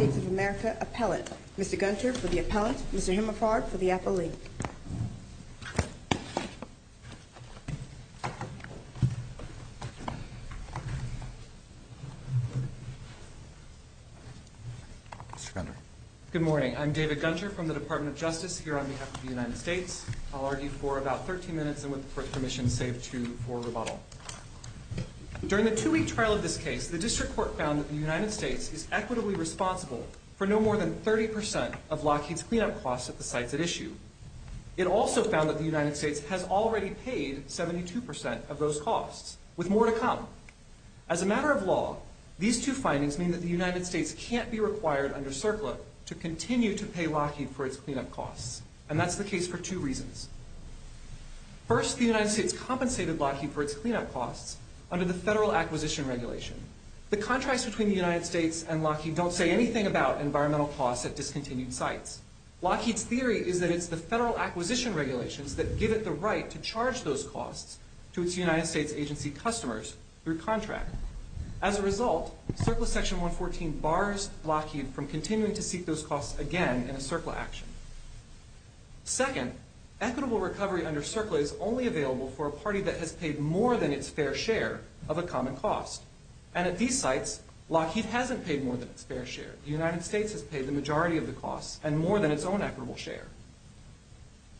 of America, Appellant. Mr. Gunter for the Appellant, Mr. Himmelfarb for the Appellee. Good morning. I'm David Gunter from the Department of Justice here on behalf of the United States. I'll argue for about 13 minutes and with permission save two for rebuttal. During the two-week trial of this case, the district court found that the United States is equitably responsible for no more than 30% of Lockheed's cleanup costs at the sites at issue. It also found that the United States has already paid 72% of those costs, with more to come. As a matter of law, these two findings mean that the United States can't be required under CERCLA to continue to pay Lockheed for its cleanup costs, and that's the case for two reasons. First, the United States compensated Lockheed for its cleanup costs under the Federal Acquisition Regulation. The contracts between the United States and Lockheed don't say anything about environmental costs at discontinued sites. Lockheed's theory is that it's the Federal Acquisition Regulations that give it the right to charge those costs to its United States agency customers through contract. As a result, CERCLA Section 114 bars Lockheed from continuing to seek those costs again in a CERCLA action. Second, equitable recovery under CERCLA is only available for a party that has paid more than its fair share of a common cost. And at these sites, Lockheed hasn't paid more than its fair share. The United States has paid the majority of the costs and more than its own equitable share.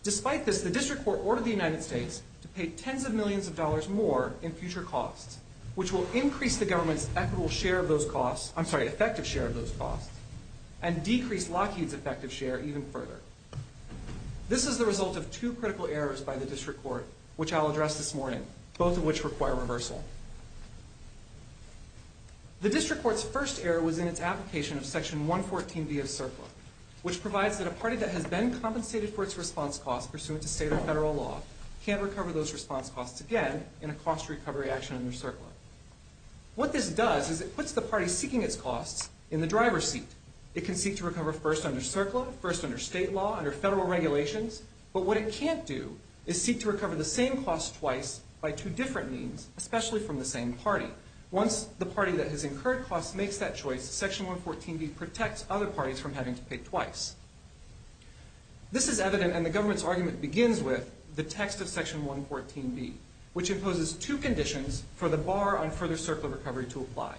Despite this, the district court ordered the United States to pay tens of millions of dollars more in future costs, which will increase the government's equitable share of those costs, I'm sorry, effective share of those costs, and decrease Lockheed's effective share even further. This is the result of two critical errors by the district court, which I'll address this morning, both of which require reversal. The district court's first error was in its application of Section 114b of CERCLA, which provides that a party that has been compensated for its response costs pursuant to state or federal law can't recover those response costs again in a cost recovery action under CERCLA. What this does is it puts the party seeking its costs in the driver's seat. It can seek to recover first under CERCLA, first under state law, under federal regulations, but what it can't do is seek to recover the same cost twice by two different means, especially from the same party. Once the party that has incurred costs makes that choice, Section 114b protects other parties from having to pay twice. This is evident, and the government's argument begins with the text of Section 114b, which imposes two conditions for the bar on further CERCLA recovery to apply.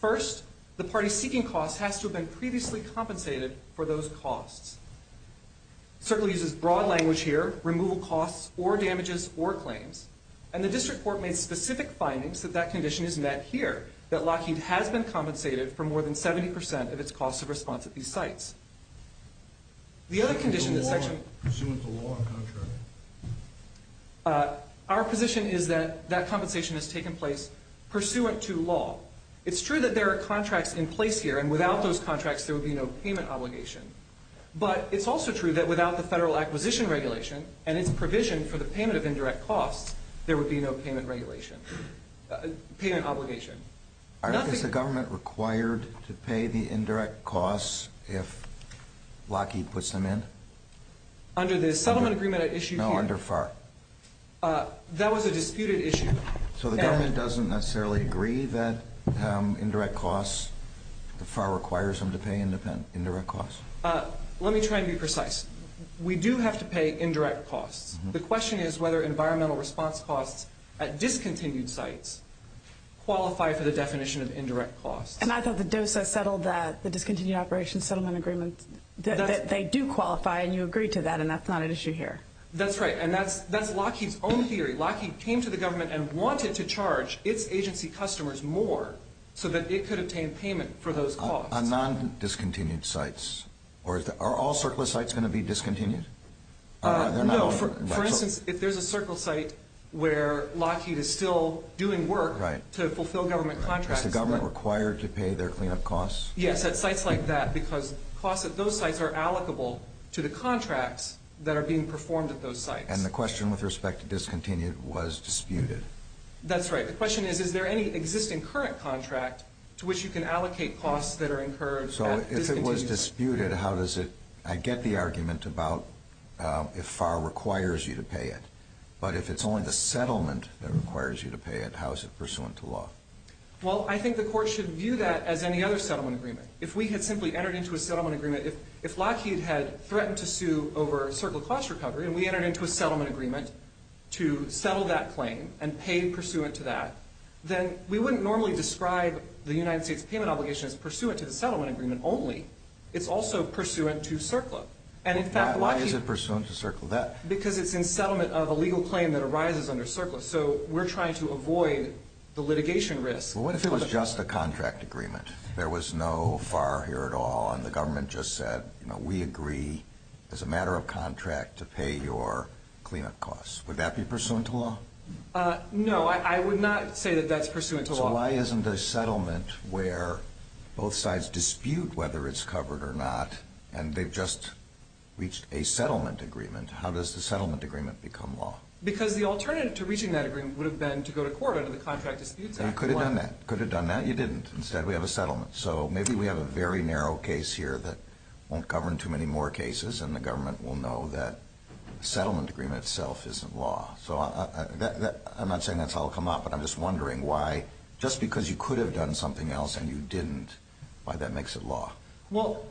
First, the party seeking costs has to have been previously compensated for those costs. CERCLA uses broad language here, removal costs or damages or claims, and the district court made specific findings that that condition is met here, that Lockheed has been compensated for more than 70 percent of its costs of response at these sites. The other condition in this section— Pursuant to law or contract? Our position is that that compensation has taken place pursuant to law. It's true that there are contracts in place here, and without those contracts there would be no payment obligation, but it's also true that without the federal acquisition regulation and its provision for the payment of indirect costs, there would be no payment obligation. Is the government required to pay the indirect costs if Lockheed puts them in? Under the settlement agreement at issue here? No, under FAR. That was a disputed issue. So the government doesn't necessarily agree that indirect costs, that FAR requires them to pay indirect costs? Let me try and be precise. We do have to pay indirect costs. The question is whether environmental response costs at discontinued sites qualify for the definition of indirect costs. And I thought the DOSA settled that, the Discontinued Operations Settlement Agreement, that they do qualify, and you agree to that, and that's not at issue here. That's right, and that's Lockheed's own theory. Lockheed came to the government and wanted to charge its agency customers more so that it could obtain payment for those costs. On non-discontinued sites? Are all circular sites going to be discontinued? No, for instance, if there's a circle site where Lockheed is still doing work to fulfill government contracts. Is the government required to pay their cleanup costs? Yes, at sites like that, because costs at those sites are allocable to the contracts that are being performed at those sites. And the question with respect to discontinued was disputed. That's right. The question is, is there any existing current contract to which you can allocate costs that are incurred at discontinued? If it was disputed, how does it – I get the argument about if FAR requires you to pay it, but if it's only the settlement that requires you to pay it, how is it pursuant to law? Well, I think the court should view that as any other settlement agreement. If we had simply entered into a settlement agreement, if Lockheed had threatened to sue over circular cost recovery and we entered into a settlement agreement to settle that claim and pay pursuant to that, then we wouldn't normally describe the United States payment obligation as pursuant to the settlement agreement only. It's also pursuant to circular. And in fact, Lockheed – Why is it pursuant to circular? Because it's in settlement of a legal claim that arises under circular. So we're trying to avoid the litigation risk. Well, what if it was just a contract agreement? There was no FAR here at all and the government just said, you know, we agree as a matter of contract to pay your cleanup costs. Would that be pursuant to law? No. I would not say that that's pursuant to law. So why isn't a settlement where both sides dispute whether it's covered or not and they've just reached a settlement agreement, how does the settlement agreement become law? Because the alternative to reaching that agreement would have been to go to court under the Contract Disputes Act. You could have done that. You could have done that. You didn't. Instead, we have a settlement. So maybe we have a very narrow case here that won't govern too many more cases and the government will know that settlement agreement itself isn't law. So I'm not saying that's how it will come out, but I'm just wondering why, just because you could have done something else and you didn't, why that makes it law. Well,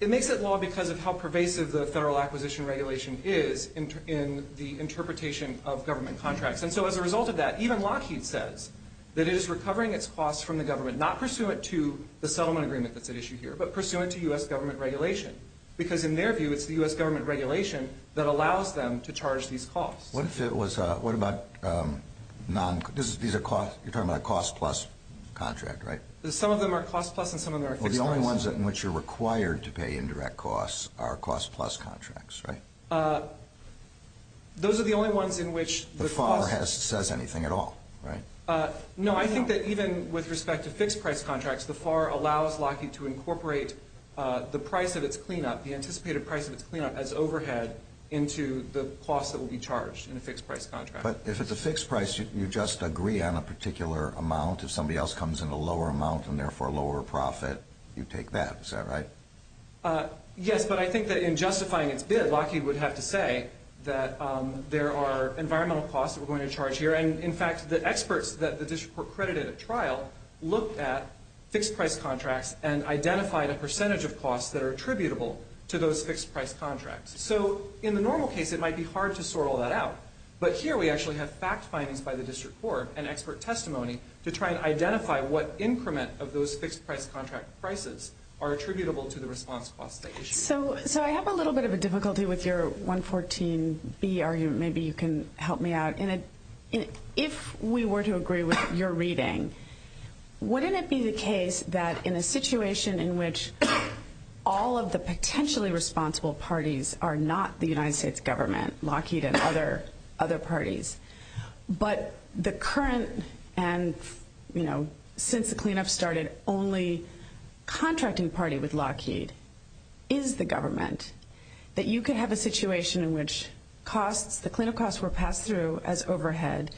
it makes it law because of how pervasive the federal acquisition regulation is in the interpretation of government contracts. And so as a result of that, even Lockheed says that it is recovering its costs from the government, not pursuant to the settlement agreement that's at issue here, but pursuant to U.S. government regulation because in their view it's the U.S. government regulation that allows them to charge these costs. What if it was, what about, these are, you're talking about a cost-plus contract, right? Some of them are cost-plus and some of them are fixed-price. Well, the only ones in which you're required to pay indirect costs are cost-plus contracts, right? Those are the only ones in which the cost- The FAR says anything at all, right? No, I think that even with respect to fixed-price contracts, the FAR allows Lockheed to incorporate the price of its cleanup, the anticipated price of its cleanup as overhead into the cost that will be charged in a fixed-price contract. But if it's a fixed price, you just agree on a particular amount. If somebody else comes in a lower amount and therefore a lower profit, you take that. Is that right? Yes, but I think that in justifying its bid, Lockheed would have to say that there are environmental costs that we're going to charge here. And, in fact, the experts that the district court credited at trial looked at fixed-price contracts and identified a percentage of costs that are attributable to those fixed-price contracts. So in the normal case, it might be hard to sort all that out. But here we actually have fact findings by the district court and expert testimony to try and identify what increment of those fixed-price contract prices are attributable to the response costs. So I have a little bit of a difficulty with your 114B argument. Maybe you can help me out. If we were to agree with your reading, wouldn't it be the case that in a situation in which all of the potentially responsible parties are not the United States government, Lockheed and other parties, but the current and, you know, since the cleanup started, only contracting party with Lockheed is the government, that you could have a situation in which costs, the cleanup costs were passed through as overhead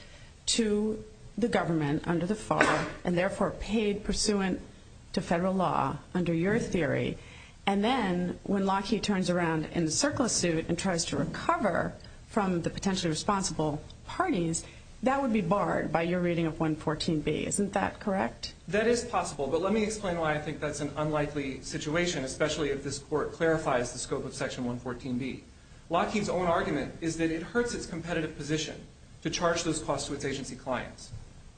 to the government under the fall and, therefore, paid pursuant to federal law under your theory. And then when Lockheed turns around in the surplus suit and tries to recover from the potentially responsible parties, that would be barred by your reading of 114B. Isn't that correct? That is possible. But let me explain why I think that's an unlikely situation, especially if this court clarifies the scope of section 114B. Lockheed's own argument is that it hurts its competitive position to charge those costs to its agency clients.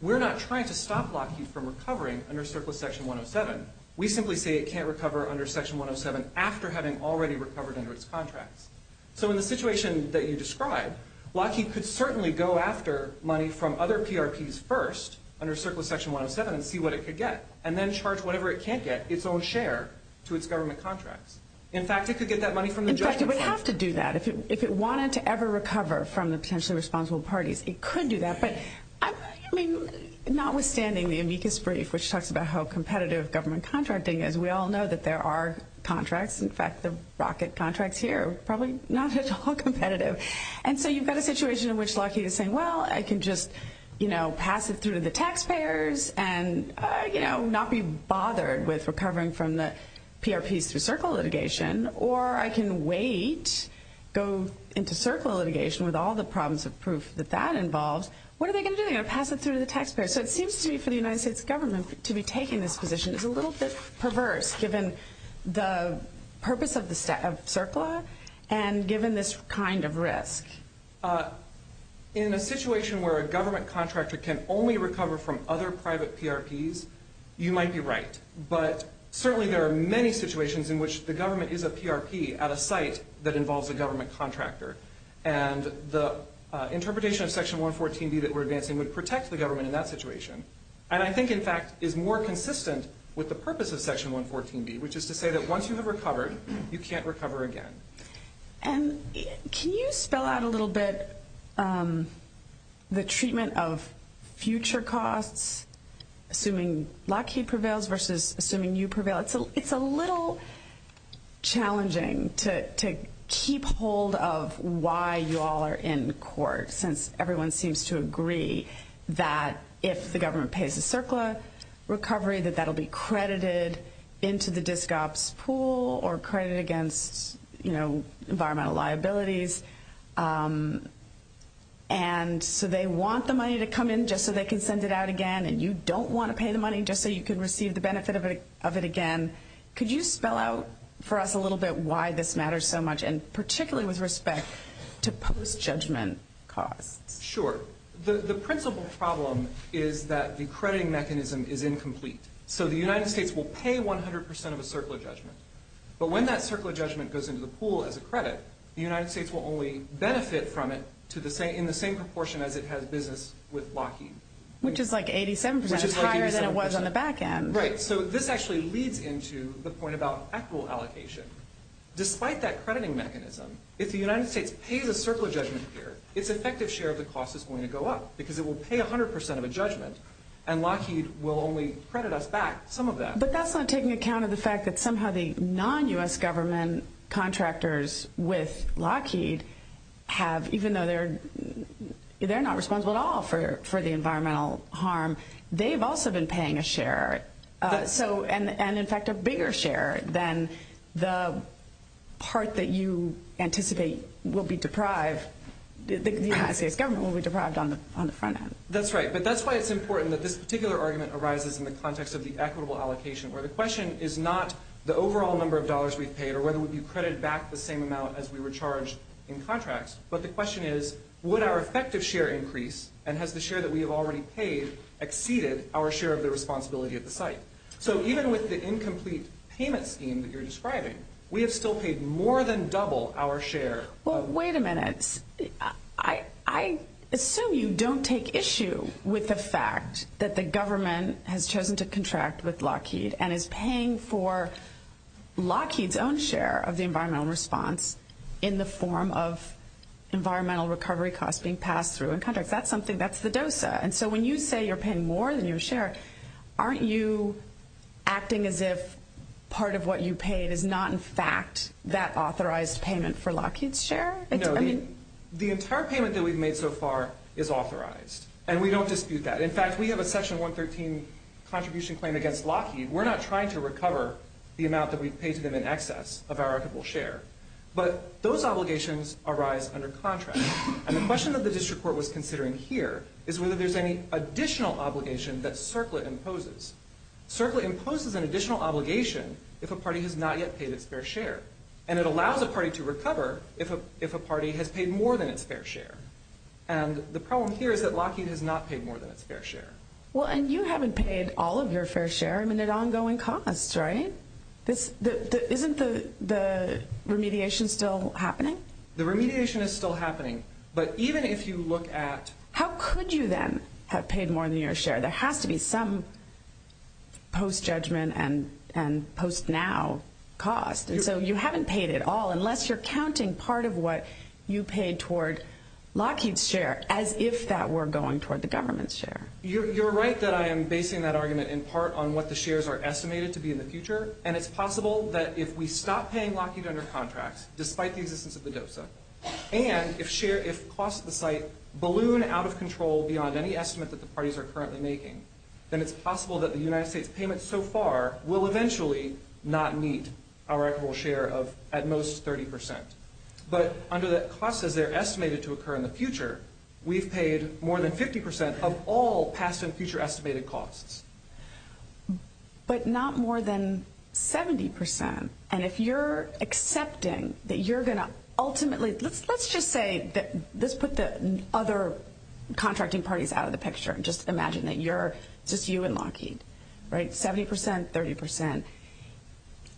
We're not trying to stop Lockheed from recovering under surplus section 107. We simply say it can't recover under section 107 after having already recovered under its contracts. So in the situation that you described, Lockheed could certainly go after money from other PRPs first under surplus section 107 and see what it could get and then charge whatever it can't get, its own share, to its government contracts. In fact, it could get that money from the justice system. In fact, it would have to do that. If it wanted to ever recover from the potentially responsible parties, it could do that. But, I mean, notwithstanding the amicus brief, which talks about how competitive government contracting is, we all know that there are contracts. In fact, the rocket contracts here are probably not at all competitive. And so you've got a situation in which Lockheed is saying, well, I can just, you know, pass it through to the taxpayers and, you know, not be bothered with recovering from the PRPs through CERCLA litigation, or I can wait, go into CERCLA litigation with all the problems of proof that that involves. What are they going to do? They're going to pass it through to the taxpayers. So it seems to me for the United States government to be taking this position is a little bit perverse, given the purpose of CERCLA and given this kind of risk. In a situation where a government contractor can only recover from other private PRPs, you might be right. But certainly there are many situations in which the government is a PRP at a site that involves a government contractor. And the interpretation of Section 114B that we're advancing would protect the government in that situation. And I think, in fact, is more consistent with the purpose of Section 114B, which is to say that once you have recovered, you can't recover again. And can you spell out a little bit the treatment of future costs, assuming Lockheed prevails versus assuming you prevail? It's a little challenging to keep hold of why you all are in court, since everyone seems to agree that if the government pays the CERCLA recovery, that that will be credited into the DSCOPS pool or credited against environmental liabilities. And so they want the money to come in just so they can send it out again, and you don't want to pay the money just so you can receive the benefit of it again. Could you spell out for us a little bit why this matters so much, and particularly with respect to post-judgment costs? Sure. The principal problem is that the crediting mechanism is incomplete. So the United States will pay 100 percent of a CERCLA judgment. But when that CERCLA judgment goes into the pool as a credit, the United States will only benefit from it in the same proportion as it has business with Lockheed. Which is like 87 percent. It's higher than it was on the back end. Right. So this actually leads into the point about actual allocation. Despite that crediting mechanism, if the United States pays a CERCLA judgment here, its effective share of the cost is going to go up because it will pay 100 percent of a judgment, and Lockheed will only credit us back some of that. But that's not taking account of the fact that somehow the non-U.S. government contractors with Lockheed have, even though they're not responsible at all for the environmental harm, they've also been paying a share, and in fact a bigger share than the part that you anticipate will be deprived that the United States government will be deprived on the front end. That's right. But that's why it's important that this particular argument arises in the context of the equitable allocation, where the question is not the overall number of dollars we've paid or whether we'll be credited back the same amount as we were charged in contracts, but the question is, would our effective share increase, and has the share that we have already paid exceeded our share of the responsibility of the site? So even with the incomplete payment scheme that you're describing, we have still paid more than double our share. Well, wait a minute. I assume you don't take issue with the fact that the government has chosen to contract with Lockheed and is paying for Lockheed's own share of the environmental response in the form of environmental recovery costs being passed through in contracts. That's something that's the dosa. And so when you say you're paying more than your share, aren't you acting as if part of what you paid is not, in fact, that authorized payment for Lockheed's share? No. The entire payment that we've made so far is authorized, and we don't dispute that. In fact, we have a Section 113 contribution claim against Lockheed. We're not trying to recover the amount that we've paid to them in excess of our equitable share. But those obligations arise under contract. And the question that the district court was considering here is whether there's any additional obligation that CERCLA imposes. CERCLA imposes an additional obligation if a party has not yet paid its fair share. And it allows a party to recover if a party has paid more than its fair share. And the problem here is that Lockheed has not paid more than its fair share. Well, and you haven't paid all of your fair share. I mean, at ongoing costs, right? Isn't the remediation still happening? The remediation is still happening. But even if you look at how could you then have paid more than your share? There has to be some post-judgment and post-now cost. And so you haven't paid it all unless you're counting part of what you paid toward Lockheed's share as if that were going toward the government's share. You're right that I am basing that argument in part on what the shares are estimated to be in the future. And it's possible that if we stop paying Lockheed under contract, despite the existence of the DOSA, and if costs at the site balloon out of control beyond any estimate that the parties are currently making, then it's possible that the United States payment so far will eventually not meet our equitable share of at most 30 percent. But under the costs as they're estimated to occur in the future, we've paid more than 50 percent of all past and future estimated costs. But not more than 70 percent. And if you're accepting that you're going to ultimately, let's just say, let's put the other contracting parties out of the picture and just imagine that it's just you and Lockheed, 70 percent, 30 percent,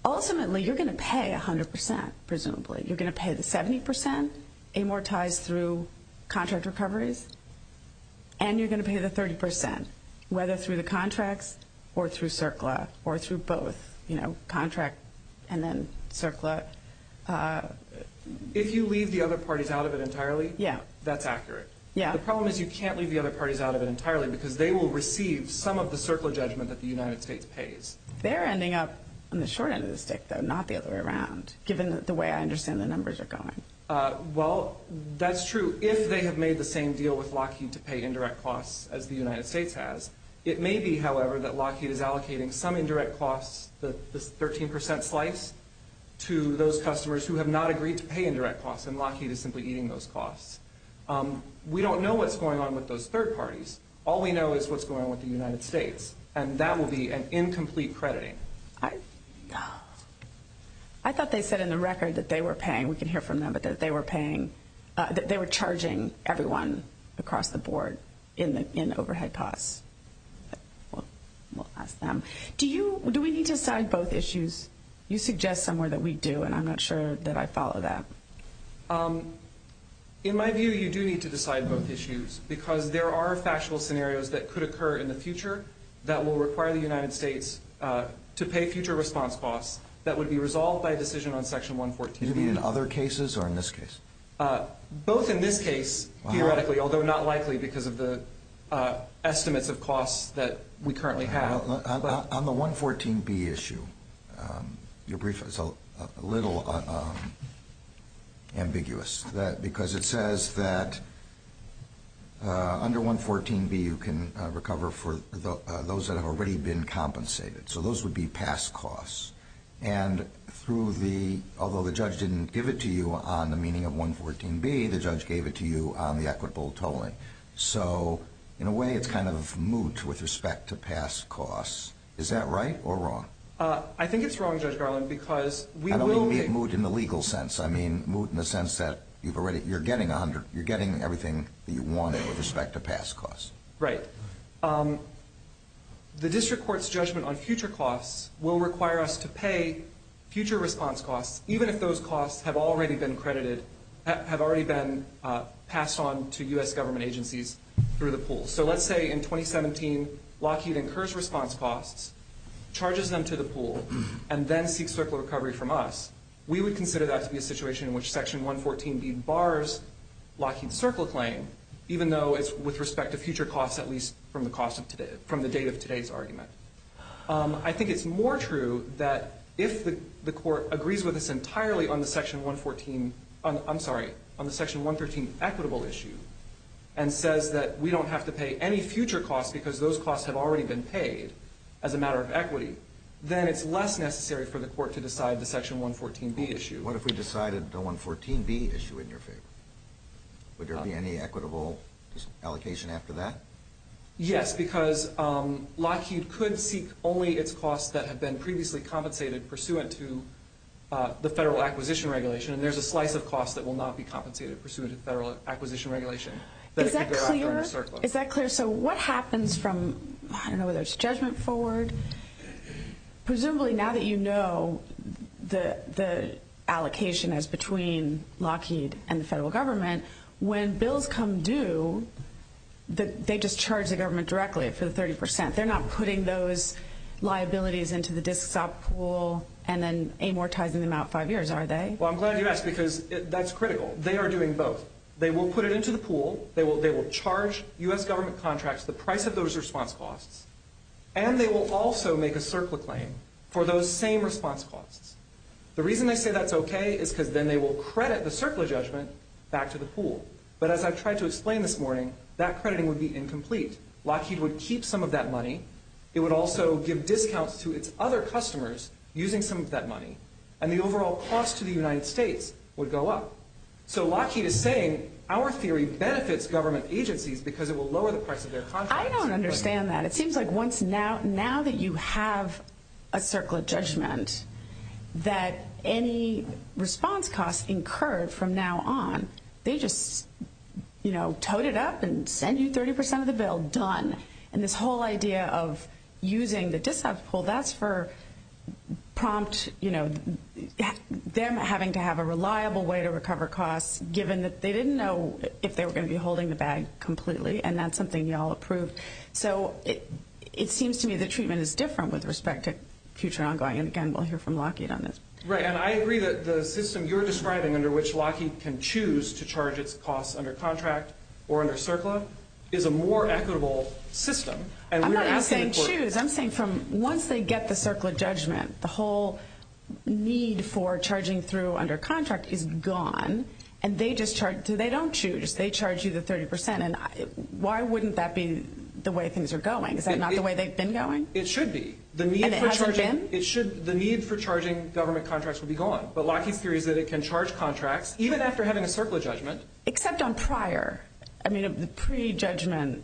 ultimately you're going to pay 100 percent, presumably. You're going to pay the 70 percent amortized through contract recoveries, and you're going to pay the 30 percent, whether through the contracts or through CERCLA, or through both, you know, contract and then CERCLA. If you leave the other parties out of it entirely, that's accurate. The problem is you can't leave the other parties out of it entirely because they will receive some of the CERCLA judgment that the United States pays. They're ending up on the short end of the stick, though, not the other way around, given the way I understand the numbers are going. Well, that's true if they have made the same deal with Lockheed to pay indirect costs as the United States has. It may be, however, that Lockheed is allocating some indirect costs, the 13 percent slice, to those customers who have not agreed to pay indirect costs, and Lockheed is simply eating those costs. We don't know what's going on with those third parties. All we know is what's going on with the United States, and that will be an incomplete crediting. I thought they said in the record that they were paying. I mean, we can hear from them, but that they were charging everyone across the board in overhead costs. We'll ask them. Do we need to decide both issues? You suggest somewhere that we do, and I'm not sure that I follow that. In my view, you do need to decide both issues because there are factual scenarios that could occur in the future that will require the United States to pay future response costs that would be resolved by a decision on Section 114. Do you mean in other cases or in this case? Both in this case, theoretically, although not likely because of the estimates of costs that we currently have. On the 114B issue, your brief is a little ambiguous because it says that under 114B, you can recover for those that have already been compensated, so those would be past costs. And through the, although the judge didn't give it to you on the meaning of 114B, the judge gave it to you on the equitable tolling. So in a way, it's kind of moot with respect to past costs. Is that right or wrong? I think it's wrong, Judge Garland, because we will be. I don't mean moot in the legal sense. I mean moot in the sense that you're getting everything that you wanted with respect to past costs. Right. The district court's judgment on future costs will require us to pay future response costs, even if those costs have already been credited, have already been passed on to U.S. government agencies through the pool. So let's say in 2017, Lockheed incurs response costs, charges them to the pool, and then seeks circle recovery from us. We would consider that to be a situation in which Section 114B bars Lockheed's circle claim, even though it's with respect to future costs, at least from the date of today's argument. I think it's more true that if the court agrees with us entirely on the Section 114, I'm sorry, on the Section 113 equitable issue and says that we don't have to pay any future costs because those costs have already been paid as a matter of equity, then it's less necessary for the court to decide the Section 114B issue. What if we decided the 114B issue in your favor? Would there be any equitable allocation after that? Yes, because Lockheed could seek only its costs that have been previously compensated pursuant to the federal acquisition regulation, and there's a slice of costs that will not be compensated pursuant to federal acquisition regulation. Is that clear? Is that clear? So what happens from, I don't know whether it's judgment forward, Presumably, now that you know the allocation is between Lockheed and the federal government, when bills come due, they just charge the government directly for the 30%. They're not putting those liabilities into the disk stop pool and then amortizing them out five years, are they? Well, I'm glad you asked because that's critical. They are doing both. They will put it into the pool. They will charge U.S. government contracts the price of those response costs, and they will also make a CERCLA claim for those same response costs. The reason I say that's okay is because then they will credit the CERCLA judgment back to the pool. But as I've tried to explain this morning, that crediting would be incomplete. Lockheed would keep some of that money. It would also give discounts to its other customers using some of that money, and the overall cost to the United States would go up. So Lockheed is saying our theory benefits government agencies because it will lower the price of their contracts. I don't understand that. It seems like once now that you have a CERCLA judgment that any response costs incurred from now on, they just, you know, toad it up and send you 30% of the bill, done. And this whole idea of using the disk stop pool, that's for prompt, you know, them having to have a reliable way to recover costs given that they didn't know if they were going to be holding the bag completely, and that's something you all approved. So it seems to me the treatment is different with respect to future ongoing. And again, we'll hear from Lockheed on this. Right. And I agree that the system you're describing under which Lockheed can choose to charge its costs under contract or under CERCLA is a more equitable system. I'm not even saying choose. I'm saying from once they get the CERCLA judgment, the whole need for charging through under contract is gone. And they just charge. They don't choose. They charge you the 30%. And why wouldn't that be the way things are going? Is that not the way they've been going? It should be. And it hasn't been? The need for charging government contracts would be gone. But Lockheed's theory is that it can charge contracts even after having a CERCLA judgment. Except on prior. I mean, the pre-judgment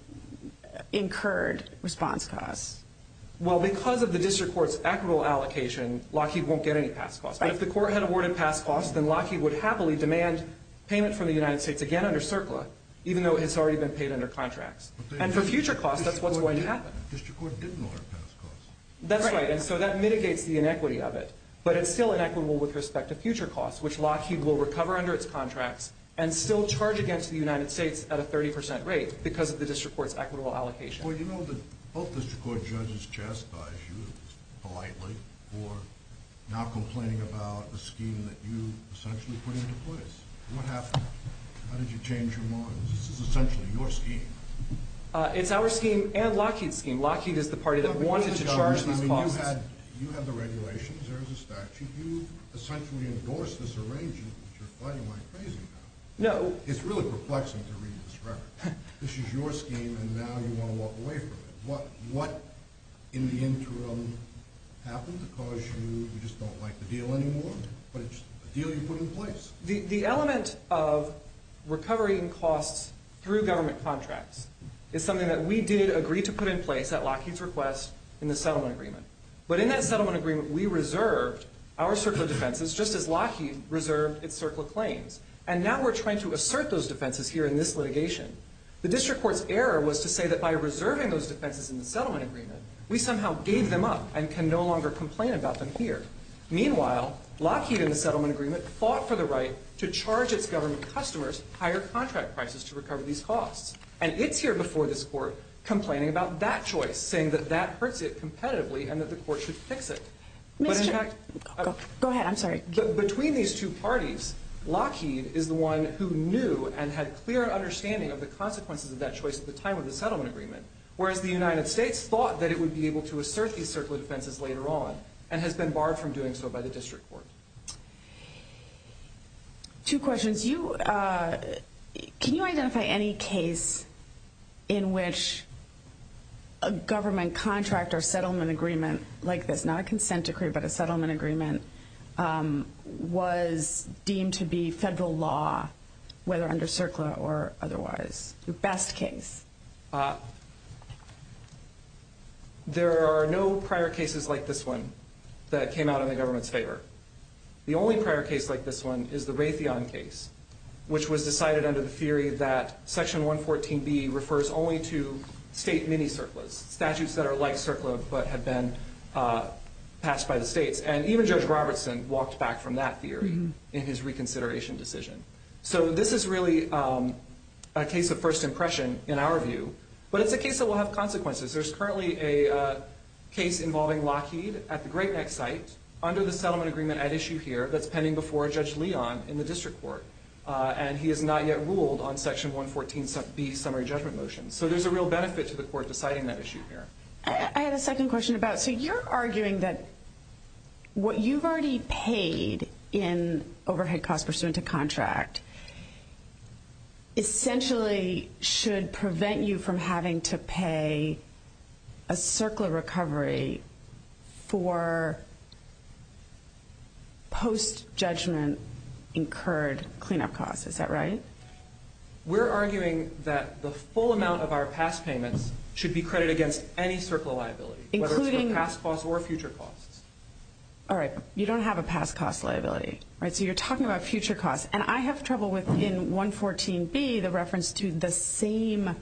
incurred response costs. Well, because of the district court's equitable allocation, Lockheed won't get any past costs. Right. But if the court had awarded past costs, then Lockheed would happily demand payment from the United States, again under CERCLA, even though it's already been paid under contracts. And for future costs, that's what's going to happen. District court didn't award past costs. That's right. And so that mitigates the inequity of it. But it's still inequitable with respect to future costs, which Lockheed will recover under its contracts and still charge against the United States at a 30% rate because of the district court's equitable allocation. Well, you know that both district court judges chastise you politely for not complaining about a scheme that you essentially put into place. What happened? How did you change your minds? This is essentially your scheme. It's our scheme and Lockheed's scheme. Lockheed is the party that wanted to charge these costs. I mean, you had the regulations. There was a statute. You essentially endorsed this arrangement, which you're fighting like crazy about. No. It's really perplexing to read this record. This is your scheme, and now you want to walk away from it. What in the interim happened to cause you to just don't like the deal anymore? But it's a deal you put in place. The element of recovering costs through government contracts is something that we did agree to put in place at Lockheed's request in the settlement agreement. But in that settlement agreement, we reserved our circle of defenses just as Lockheed reserved its circle of claims. And now we're trying to assert those defenses here in this litigation. The district court's error was to say that by reserving those defenses in the settlement agreement, we somehow gave them up and can no longer complain about them here. Meanwhile, Lockheed in the settlement agreement fought for the right to charge its government customers higher contract prices to recover these costs. And it's here before this court complaining about that choice, saying that that hurts it competitively and that the court should fix it. But in fact... Go ahead. I'm sorry. Between these two parties, Lockheed is the one who knew and had clear understanding of the consequences of that choice at the time of the settlement agreement, whereas the United States thought that it would be able to assert these circle of defenses later on and has been barred from doing so by the district court. Two questions. Can you identify any case in which a government contract or settlement agreement like this, not a consent decree but a settlement agreement, was deemed to be federal law, whether under CERCLA or otherwise? The best case. There are no prior cases like this one that came out in the government's favor. The only prior case like this one is the Raytheon case, which was decided under the theory that Section 114B refers only to state mini-CERCLAs, statutes that are like CERCLA but have been passed by the states. And even Judge Robertson walked back from that theory in his reconsideration decision. So this is really a case of first impression in our view. But it's a case that will have consequences. There's currently a case involving Lockheed at the Great Neck site under the settlement agreement at issue here that's pending before Judge Leon in the district court, and he has not yet ruled on Section 114B's summary judgment motion. So there's a real benefit to the court deciding that issue here. I have a second question about, so you're arguing that what you've already paid in overhead costs pursuant to contract essentially should prevent you from having to pay a CERCLA recovery for post-judgment incurred cleanup costs. Is that right? We're arguing that the full amount of our past payments should be credited against any CERCLA liability, whether it's for past costs or future costs. All right. You don't have a past cost liability, right? So you're talking about future costs. And I have trouble with, in 114B, the reference to the same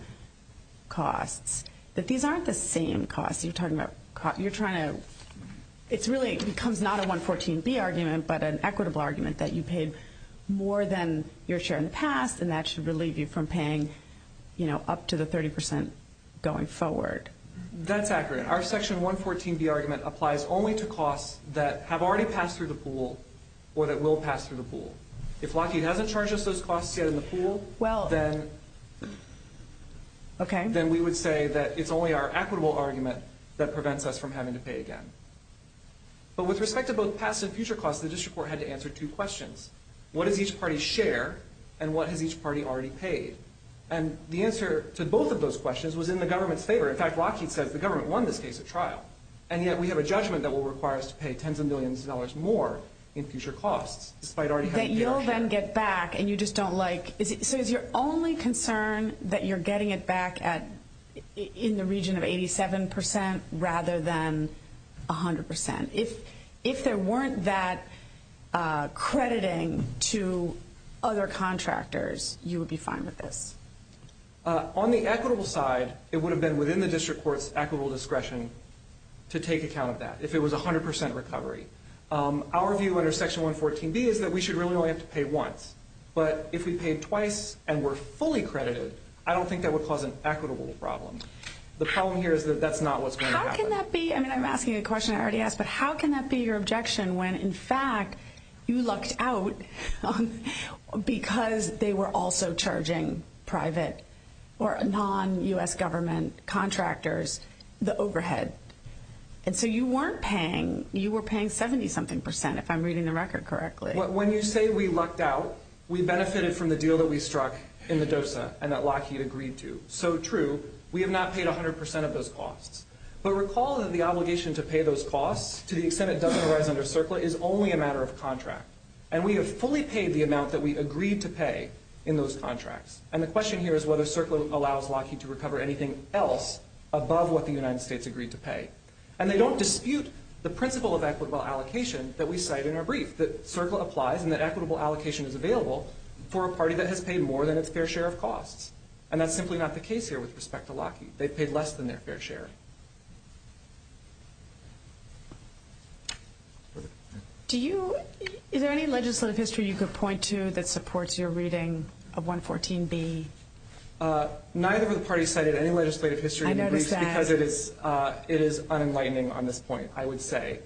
costs, that these aren't the same costs. You're trying to – it really becomes not a 114B argument but an equitable argument that you paid more than your share in the past, and that should relieve you from paying up to the 30 percent going forward. That's accurate. Our section 114B argument applies only to costs that have already passed through the pool or that will pass through the pool. If Lockheed hasn't charged us those costs yet in the pool, then we would say that it's only our equitable argument that prevents us from having to pay again. But with respect to both past and future costs, the district court had to answer two questions. What does each party share, and what has each party already paid? In fact, Lockheed says the government won this case at trial, and yet we have a judgment that will require us to pay tens of millions of dollars more in future costs, despite already having paid our share. That you'll then get back and you just don't like – so is your only concern that you're getting it back in the region of 87 percent rather than 100 percent? If there weren't that crediting to other contractors, you would be fine with this? On the equitable side, it would have been within the district court's equitable discretion to take account of that if it was 100 percent recovery. Our view under section 114B is that we should really only have to pay once. But if we paid twice and were fully credited, I don't think that would cause an equitable problem. The problem here is that that's not what's going to happen. How can that be – I mean, I'm asking a question I already asked, but how can that be your objection when, in fact, you lucked out because they were also charging private or non-U.S. government contractors the overhead? And so you weren't paying – you were paying 70-something percent, if I'm reading the record correctly. When you say we lucked out, we benefited from the deal that we struck in the DOSA and that Lockheed agreed to. So, true, we have not paid 100 percent of those costs. But recall that the obligation to pay those costs, to the extent it doesn't arise under CERCLA, is only a matter of contract. And we have fully paid the amount that we agreed to pay in those contracts. And the question here is whether CERCLA allows Lockheed to recover anything else above what the United States agreed to pay. And they don't dispute the principle of equitable allocation that we cite in our brief, that CERCLA applies and that equitable allocation is available for a party that has paid more than its fair share of costs. And that's simply not the case here with respect to Lockheed. They've paid less than their fair share. Do you – is there any legislative history you could point to that supports your reading of 114B? Neither of the parties cited any legislative history in the briefs, because it is unenlightening on this point, I would say.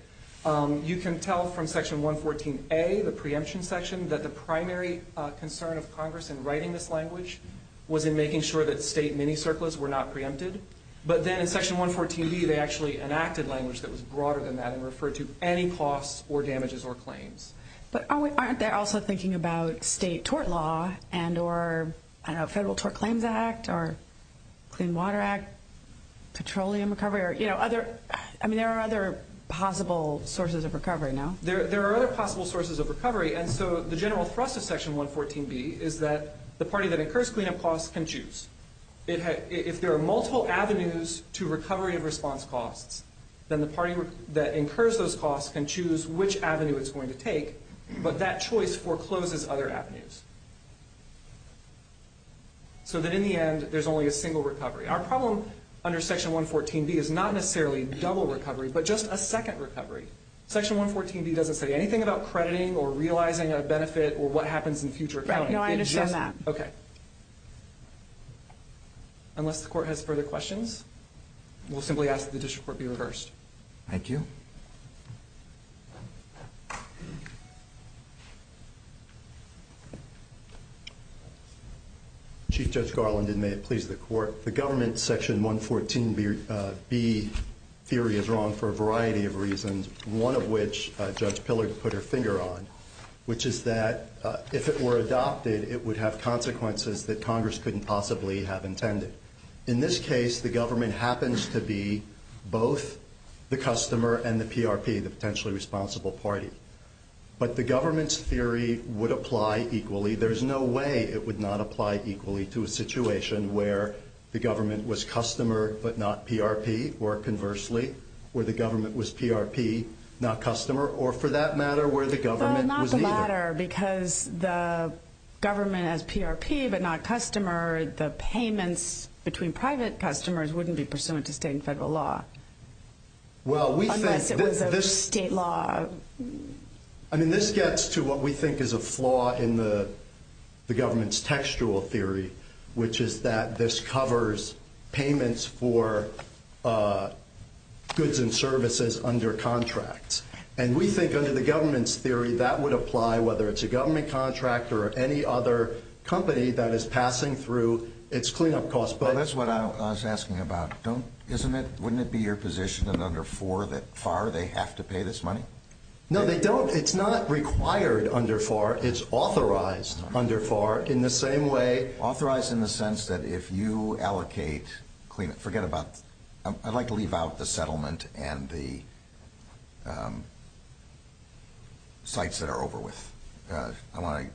You can tell from Section 114A, the preemption section, that the primary concern of Congress in writing this language was in making sure that state mini-CERCLAs were not preempted. But then in Section 114B, they actually enacted language that was broader than that and referred to any costs or damages or claims. But aren't they also thinking about state tort law and or Federal Tort Claims Act or Clean Water Act, petroleum recovery, or, you know, other – I mean, there are other possible sources of recovery, no? There are other possible sources of recovery. And so the general thrust of Section 114B is that the party that incurs cleanup costs can choose. If there are multiple avenues to recovery of response costs, then the party that incurs those costs can choose which avenue it's going to take, but that choice forecloses other avenues. So that in the end, there's only a single recovery. Our problem under Section 114B is not necessarily double recovery, but just a second recovery. Section 114B doesn't say anything about crediting or realizing a benefit or what happens in future accounting. Right. No, I understand that. Okay. Unless the Court has further questions, we'll simply ask that the District Court be reversed. Thank you. Chief Judge Garland, and may it please the Court, the government's Section 114B theory is wrong for a variety of reasons, one of which Judge Pillard put her finger on, which is that if it were adopted, it would have consequences that Congress couldn't possibly have intended. In this case, the government happens to be both the customer and the PRP, the Potentially Responsible Party. But the government's theory would apply equally. There's no way it would not apply equally to a situation where the government was customer but not PRP, or conversely, where the government was PRP, not customer, or for that matter, where the government was neither. Well, not the latter, because the government as PRP but not customer, the payments between private customers wouldn't be pursuant to state and federal law. Well, we think this... Unless it was a state law. I mean, this gets to what we think is a flaw in the government's textual theory, which is that this covers payments for goods and services under contracts. And we think under the government's theory that would apply whether it's a government contract or any other company that is passing through its cleanup costs. Well, that's what I was asking about. Wouldn't it be your position that under FAR they have to pay this money? No, they don't. It's not required under FAR. It's authorized under FAR in the same way... Authorized in the sense that if you allocate... Forget about... I'd like to leave out the settlement and the sites that are over with. I want to...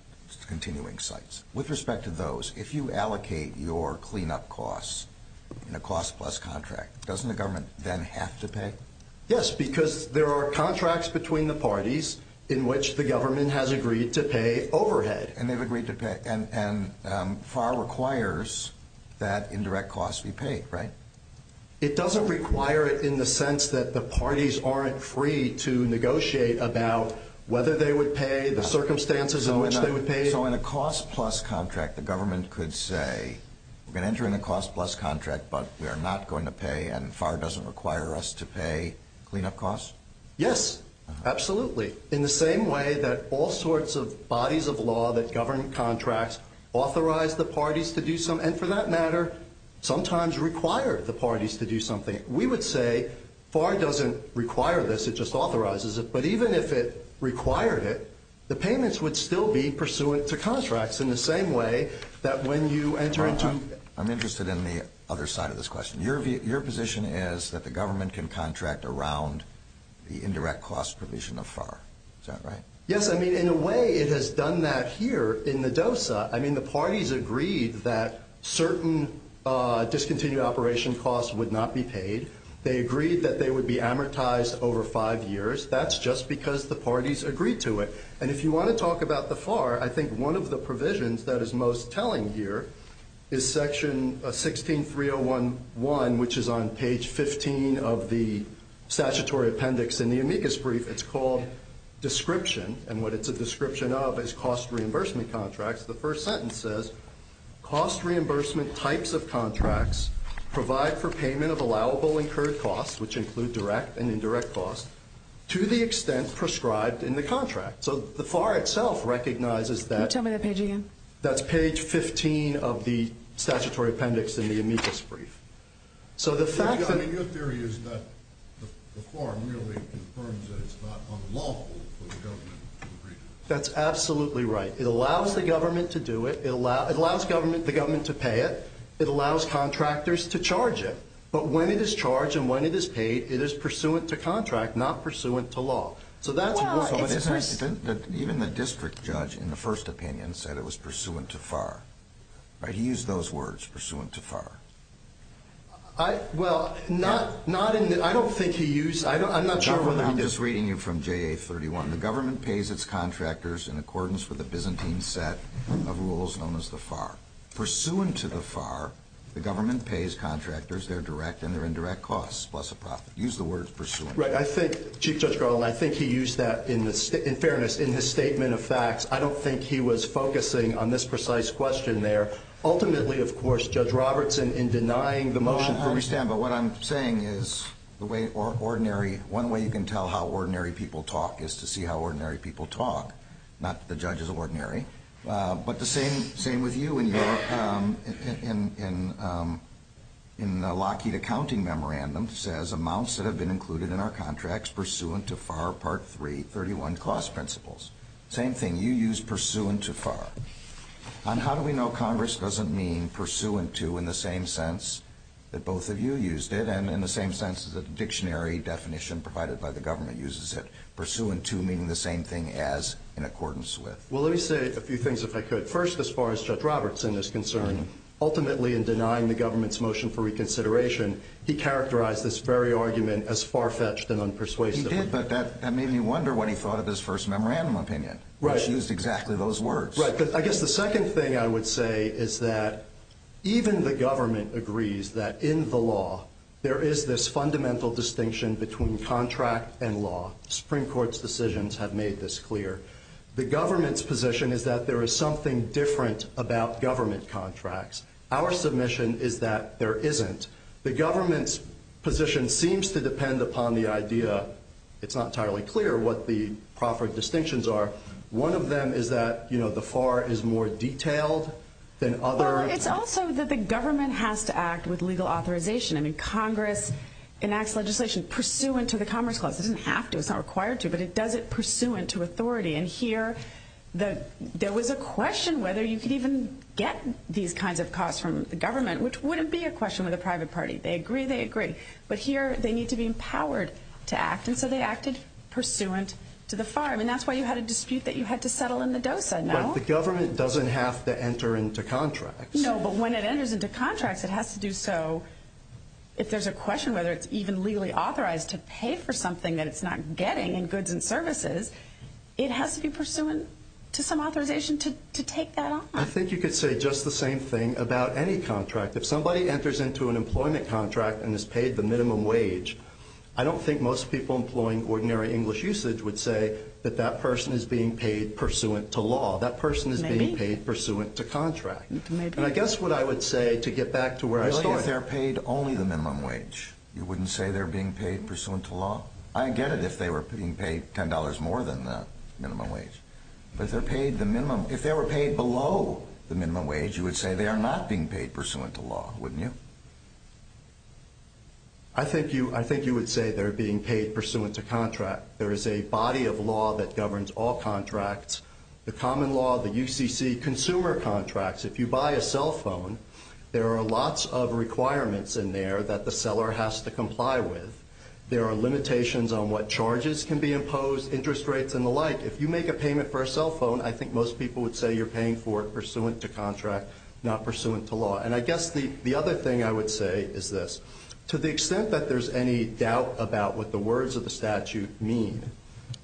Continuing sites. With respect to those, if you allocate your cleanup costs in a cost-plus contract, doesn't the government then have to pay? Yes, because there are contracts between the parties in which the government has agreed to pay overhead. And they've agreed to pay. And FAR requires that indirect costs be paid, right? It doesn't require it in the sense that the parties aren't free to negotiate about whether they would pay, the circumstances in which they would pay. So in a cost-plus contract, the government could say, we're going to enter in a cost-plus contract, but we are not going to pay, and FAR doesn't require us to pay cleanup costs? Yes, absolutely. In the same way that all sorts of bodies of law that govern contracts authorize the parties to do something, and for that matter, sometimes require the parties to do something, we would say FAR doesn't require this, it just authorizes it. But even if it required it, the payments would still be pursuant to contracts in the same way that when you enter into I'm interested in the other side of this question. Your position is that the government can contract around the indirect cost provision of FAR. Is that right? Yes, I mean, in a way, it has done that here in the DOSA. I mean, the parties agreed that certain discontinued operation costs would not be paid. They agreed that they would be amortized over five years. That's just because the parties agreed to it. And if you want to talk about the FAR, I think one of the provisions that is most telling here is Section 16.301.1, which is on page 15 of the statutory appendix in the amicus brief. It's called description, and what it's a description of is cost reimbursement contracts. The first sentence says, cost reimbursement types of contracts provide for payment of allowable incurred costs, which include direct and indirect costs, to the extent prescribed in the contract. So the FAR itself recognizes that. Can you tell me that page again? That's page 15 of the statutory appendix in the amicus brief. I mean, your theory is that the FAR merely confirms that it's not unlawful for the government to agree to it. That's absolutely right. It allows the government to do it. It allows the government to pay it. It allows contractors to charge it. But when it is charged and when it is paid, it is pursuant to contract, not pursuant to law. So that's what it says. Even the district judge in the first opinion said it was pursuant to FAR. He used those words, pursuant to FAR. Well, I don't think he used them. I'm not sure what that means. I'm just reading you from JA31. The government pays its contractors in accordance with the Byzantine set of rules known as the FAR. Pursuant to the FAR, the government pays contractors their direct and their indirect costs, plus a profit. Use the words pursuant. Right. I think, Chief Judge Garland, I think he used that, in fairness, in his statement of facts. I don't think he was focusing on this precise question there. Ultimately, of course, Judge Robertson, in denying the motion. I understand. But what I'm saying is the way ordinary, one way you can tell how ordinary people talk is to see how ordinary people talk. Not that the judge is ordinary. But the same with you. In the Lockheed accounting memorandum, it says amounts that have been included in our contracts pursuant to FAR Part 3, 31, cost principles. Same thing. You used pursuant to FAR. And how do we know Congress doesn't mean pursuant to in the same sense that both of you used it and in the same sense that the dictionary definition provided by the government uses it? Pursuant to meaning the same thing as in accordance with. Well, let me say a few things, if I could. First, as far as Judge Robertson is concerned, ultimately in denying the government's motion for reconsideration, he characterized this very argument as far-fetched and unpersuasive. He did, but that made me wonder what he thought of his first memorandum opinion. Right. He used exactly those words. Right. I guess the second thing I would say is that even the government agrees that in the law, there is this fundamental distinction between contract and law. Supreme Court's decisions have made this clear. The government's position is that there is something different about government contracts. Our submission is that there isn't. The government's position seems to depend upon the idea. It's not entirely clear what the proper distinctions are. One of them is that, you know, the FAR is more detailed than other. Well, it's also that the government has to act with legal authorization. I mean, Congress enacts legislation pursuant to the Commerce Clause. It doesn't have to. It's not required to, but it does it pursuant to authority. And here, there was a question whether you could even get these kinds of costs from the government, which wouldn't be a question with a private party. They agree, they agree. But here, they need to be empowered to act, and so they acted pursuant to the FAR. I mean, that's why you had a dispute that you had to settle in the DOSA, no? But the government doesn't have to enter into contracts. No, but when it enters into contracts, it has to do so. If there's a question whether it's even legally authorized to pay for something that it's not getting in goods and services, it has to be pursuant to some authorization to take that on. I think you could say just the same thing about any contract. If somebody enters into an employment contract and is paid the minimum wage, I don't think most people employing ordinary English usage would say that that person is being paid pursuant to law. That person is being paid pursuant to contract. And I guess what I would say, to get back to where I started— If they're paid only the minimum wage, you wouldn't say they're being paid pursuant to law? I get it if they were being paid $10 more than the minimum wage. But if they're paid the minimum—if they were paid below the minimum wage, you would say they are not being paid pursuant to law, wouldn't you? I think you would say they're being paid pursuant to contract. There is a body of law that governs all contracts. The common law, the UCC, consumer contracts. If you buy a cell phone, there are lots of requirements in there that the seller has to comply with. There are limitations on what charges can be imposed, interest rates and the like. If you make a payment for a cell phone, I think most people would say you're paying for it pursuant to contract, not pursuant to law. And I guess the other thing I would say is this. To the extent that there's any doubt about what the words of the statute mean,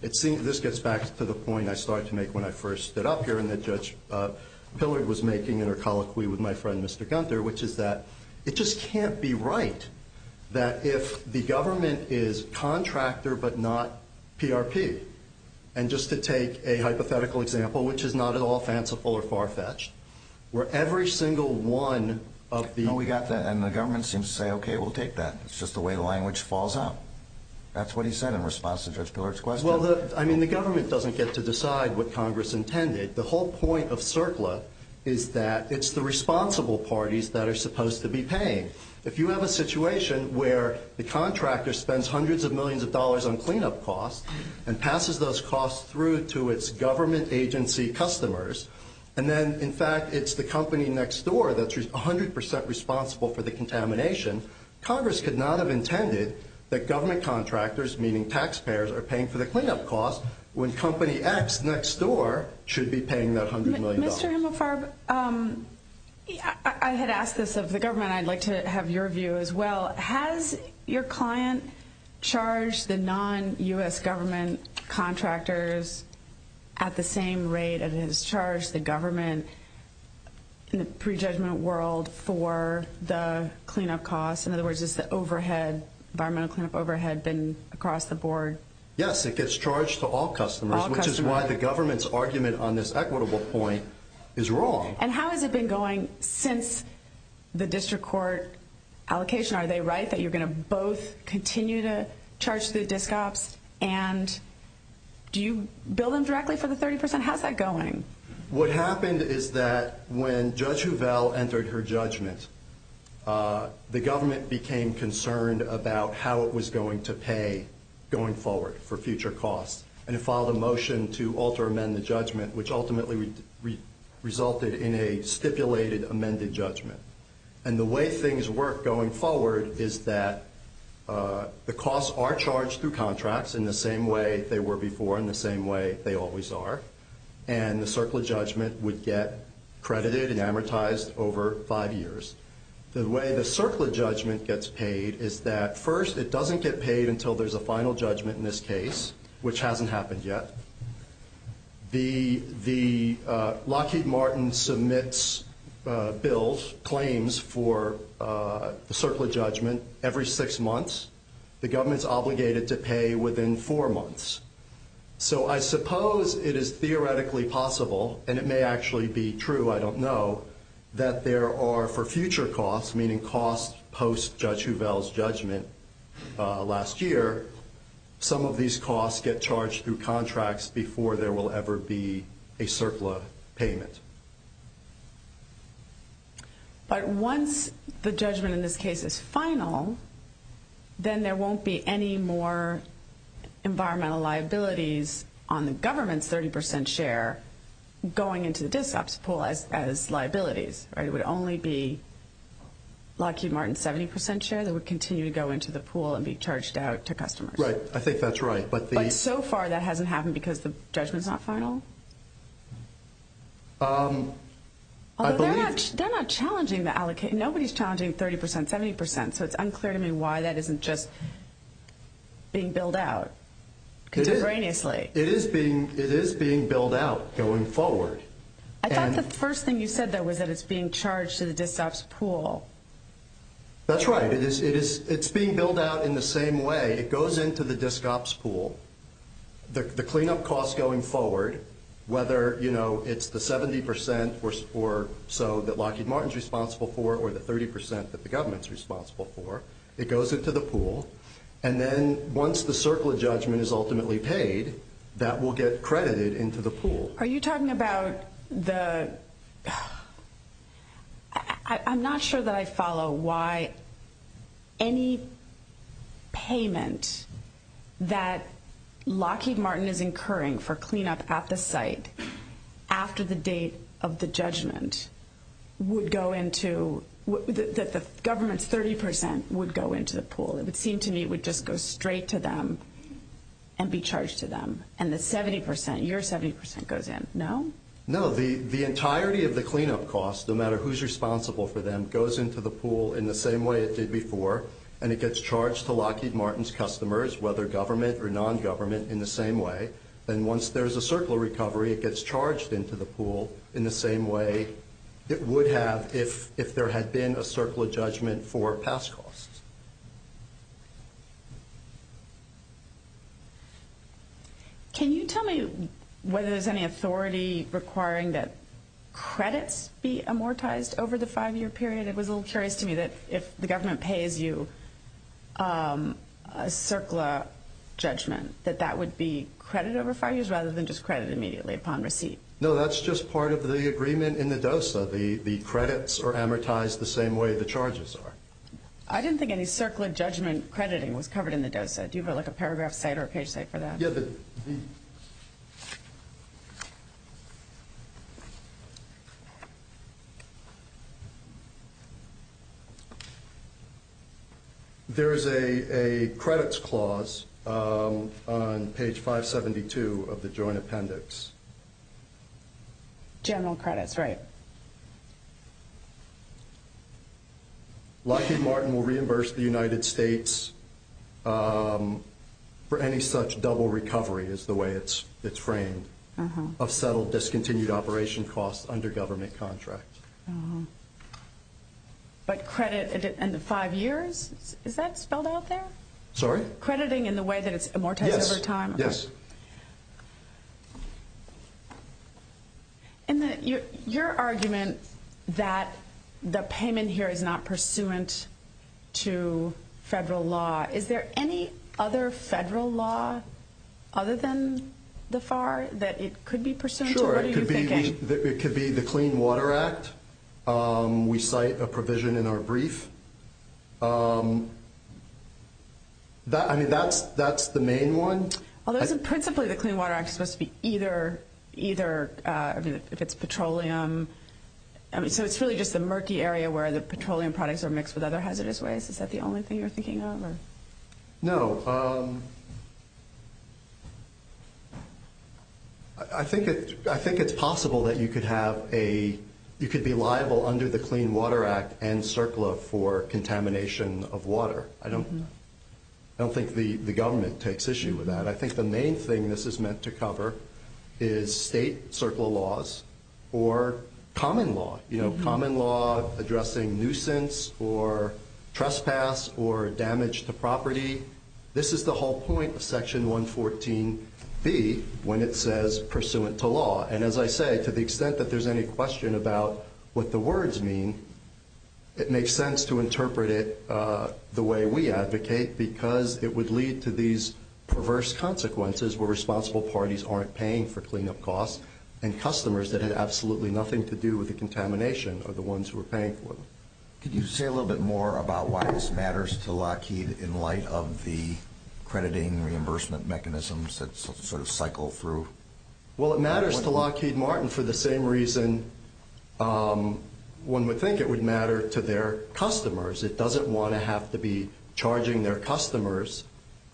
this gets back to the point I started to make when I first stood up here and that Judge Pillard was making in her colloquy with my friend Mr. Gunther, which is that it just can't be right that if the government is contractor but not PRP, and just to take a hypothetical example, which is not at all fanciful or far-fetched, where every single one of the— No, we got that. And the government seems to say, OK, we'll take that. It's just the way the language falls out. That's what he said in response to Judge Pillard's question. Well, I mean, the government doesn't get to decide what Congress intended. The whole point of CERCLA is that it's the responsible parties that are supposed to be paying. If you have a situation where the contractor spends hundreds of millions of dollars on cleanup costs and passes those costs through to its government agency customers, and then, in fact, it's the company next door that's 100 percent responsible for the contamination, Congress could not have intended that government contractors, meaning taxpayers, are paying for the cleanup costs when company X next door should be paying that $100 million. Mr. Himelfarb, I had asked this of the government. I'd like to have your view as well. Has your client charged the non-U.S. government contractors at the same rate that it has charged the government in the prejudgment world for the cleanup costs? In other words, is the overhead, environmental cleanup overhead, been across the board? Yes, it gets charged to all customers, which is why the government's argument on this equitable point is wrong. And how has it been going since the district court allocation? Are they right that you're going to both continue to charge the disc ops? And do you bill them directly for the 30 percent? How's that going? What happened is that when Judge Hovell entered her judgment, the government became concerned about how it was going to pay going forward for future costs, and it filed a motion to alter amend the judgment, which ultimately resulted in a stipulated amended judgment. And the way things work going forward is that the costs are charged through contracts in the same way they were before, in the same way they always are, and the circle of judgment would get credited and amortized over five years. The way the circle of judgment gets paid is that, first, it doesn't get paid until there's a final judgment in this case, which hasn't happened yet. Lockheed Martin submits bills, claims for the circle of judgment every six months. The government's obligated to pay within four months. So I suppose it is theoretically possible, and it may actually be true, I don't know, that there are for future costs, meaning costs post-Judge Hovell's judgment last year, some of these costs get charged through contracts before there will ever be a circle of payment. But once the judgment in this case is final, then there won't be any more environmental liabilities on the government's 30 percent share going into the disc ops pool as liabilities. It would only be Lockheed Martin's 70 percent share that would continue to go into the pool and be charged out to customers. Right. I think that's right. But so far that hasn't happened because the judgment's not final? Although they're not challenging the allocation. Nobody's challenging 30 percent, 70 percent. So it's unclear to me why that isn't just being billed out contemporaneously. It is being billed out going forward. I thought the first thing you said, though, was that it's being charged to the disc ops pool. That's right. It's being billed out in the same way. It goes into the disc ops pool. The cleanup costs going forward, whether it's the 70 percent or so that Lockheed Martin's responsible for or the 30 percent that the government's responsible for, it goes into the pool. And then once the circle of judgment is ultimately paid, that will get credited into the pool. Are you talking about the – I'm not sure that I follow why any payment that Lockheed Martin is incurring for cleanup at the site after the date of the judgment would go into – that the government's 30 percent would go into the pool. It would seem to me it would just go straight to them and be charged to them. And the 70 percent, your 70 percent goes in. No? No. The entirety of the cleanup costs, no matter who's responsible for them, goes into the pool in the same way it did before. And it gets charged to Lockheed Martin's customers, whether government or non-government, in the same way. And once there's a circle of recovery, it gets charged into the pool in the same way it would have if there had been a circle of judgment for past costs. Can you tell me whether there's any authority requiring that credits be amortized over the five-year period? It was a little curious to me that if the government pays you a circle of judgment, that that would be credit over five years rather than just credit immediately upon receipt. No, that's just part of the agreement in the DOSA. The credits are amortized the same way the charges are. I didn't think any circle of judgment crediting was covered in the DOSA. Do you have, like, a paragraph site or a page site for that? There is a credits clause on page 572 of the Joint Appendix. General credits, right. Lockheed Martin will reimburse the United States for any such double recovery, is the way it's framed, of settled discontinued operation costs under government contract. But credit in the five years, is that spelled out there? Sorry? Crediting in the way that it's amortized over time? Yes. Your argument that the payment here is not pursuant to federal law, is there any other federal law other than the FAR that it could be pursuant to? Sure. What are you thinking? It could be the Clean Water Act. We cite a provision in our brief. I mean, that's the main one. Well, isn't principally the Clean Water Act supposed to be either, I mean, if it's petroleum. I mean, so it's really just the murky area where the petroleum products are mixed with other hazardous waste. Is that the only thing you're thinking of? No. I think it's possible that you could be liable under the Clean Water Act and CERCLA for contamination of water. I don't think the government takes issue with that. I think the main thing this is meant to cover is state CERCLA laws or common law. Common law addressing nuisance or trespass or damage to property. This is the whole point of Section 114B when it says pursuant to law. And as I say, to the extent that there's any question about what the words mean, it makes sense to interpret it the way we advocate because it would lead to these perverse consequences where responsible parties aren't paying for cleanup costs and customers that had absolutely nothing to do with the contamination are the ones who are paying for them. Could you say a little bit more about why this matters to Lockheed in light of the crediting reimbursement mechanisms that sort of cycle through? Well, it matters to Lockheed Martin for the same reason one would think it would matter to their customers. It doesn't want to have to be charging their customers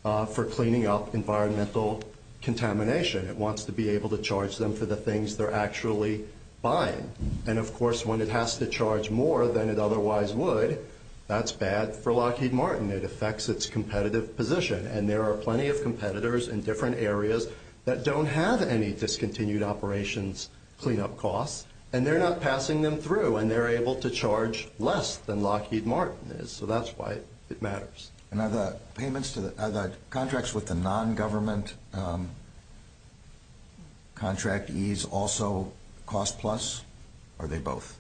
for cleaning up environmental contamination. It wants to be able to charge them for the things they're actually buying. And, of course, when it has to charge more than it otherwise would, that's bad for Lockheed Martin. It affects its competitive position, and there are plenty of competitors in different areas that don't have any discontinued operations cleanup costs, and they're not passing them through, and they're able to charge less than Lockheed Martin is. So that's why it matters. And are the contracts with the nongovernment contractees also cost plus, or are they both?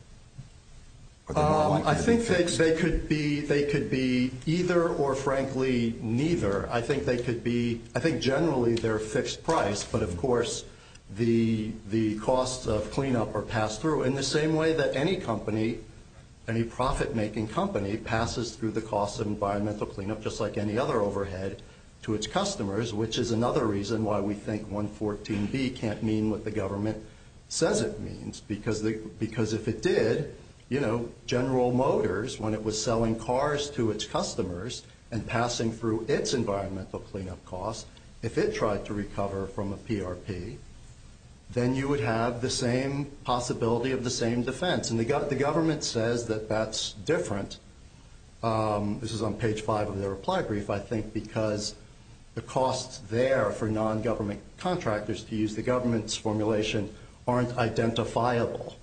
I think they could be either or, frankly, neither. I think generally they're a fixed price, but, of course, the costs of cleanup are passed through in the same way that any company, any profit-making company, passes through the costs of environmental cleanup just like any other overhead to its customers, which is another reason why we think 114B can't mean what the government says it means, because if it did, you know, General Motors, when it was selling cars to its customers and passing through its environmental cleanup costs, if it tried to recover from a PRP, then you would have the same possibility of the same defense. And the government says that that's different. This is on page 5 of their reply brief, I think, because the costs there for nongovernment contractors to use the government's formulation aren't identifiable.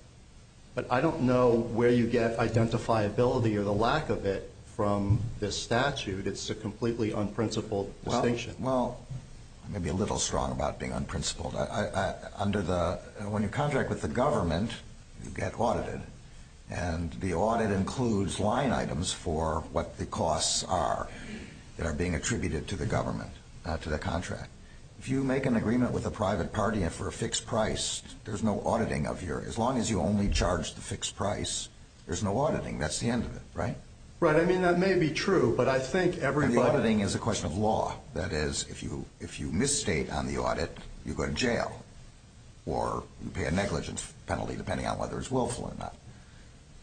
But I don't know where you get identifiability or the lack of it from this statute. It's a completely unprincipled distinction. Well, I may be a little strong about being unprincipled. When you contract with the government, you get audited, and the audit includes line items for what the costs are that are being attributed to the government, to the contract. If you make an agreement with a private party and for a fixed price, there's no auditing of your— as long as you only charge the fixed price, there's no auditing. That's the end of it, right? Right. I mean, that may be true, but I think everybody— because if you misstate on the audit, you go to jail, or you pay a negligence penalty depending on whether it's willful or not.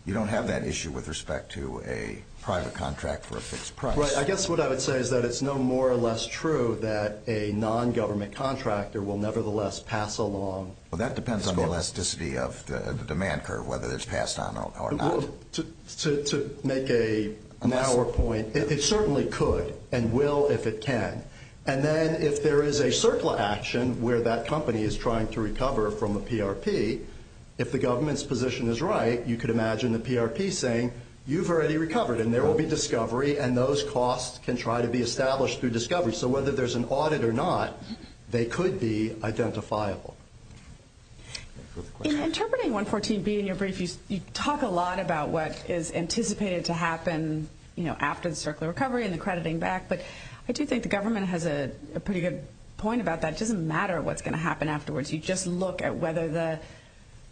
You don't have that issue with respect to a private contract for a fixed price. Right. I guess what I would say is that it's no more or less true that a nongovernment contractor will nevertheless pass along— Well, that depends on the elasticity of the demand curve, whether it's passed on or not. To make a narrower point, it certainly could and will if it can. And then if there is a CERCLA action where that company is trying to recover from a PRP, if the government's position is right, you could imagine the PRP saying, you've already recovered, and there will be discovery, and those costs can try to be established through discovery. So whether there's an audit or not, they could be identifiable. In interpreting 114B in your brief, you talk a lot about what is anticipated to happen after the CERCLA recovery and the crediting back, but I do think the government has a pretty good point about that. It doesn't matter what's going to happen afterwards. You just look at whether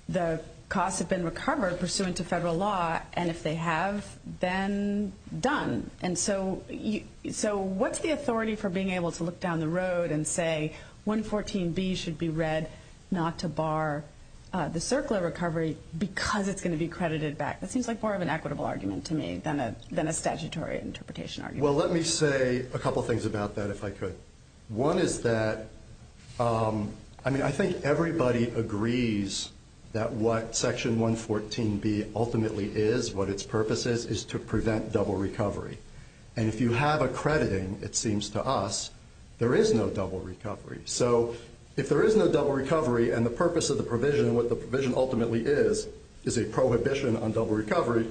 the costs have been recovered pursuant to federal law, and if they have, then done. And so what's the authority for being able to look down the road and say, 114B should be read not to bar the CERCLA recovery because it's going to be credited back? That seems like more of an equitable argument to me than a statutory interpretation argument. Well, let me say a couple things about that, if I could. One is that, I mean, I think everybody agrees that what Section 114B ultimately is, what its purpose is, is to prevent double recovery. And if you have a crediting, it seems to us, there is no double recovery. So if there is no double recovery and the purpose of the provision, what the provision ultimately is, is a prohibition on double recovery,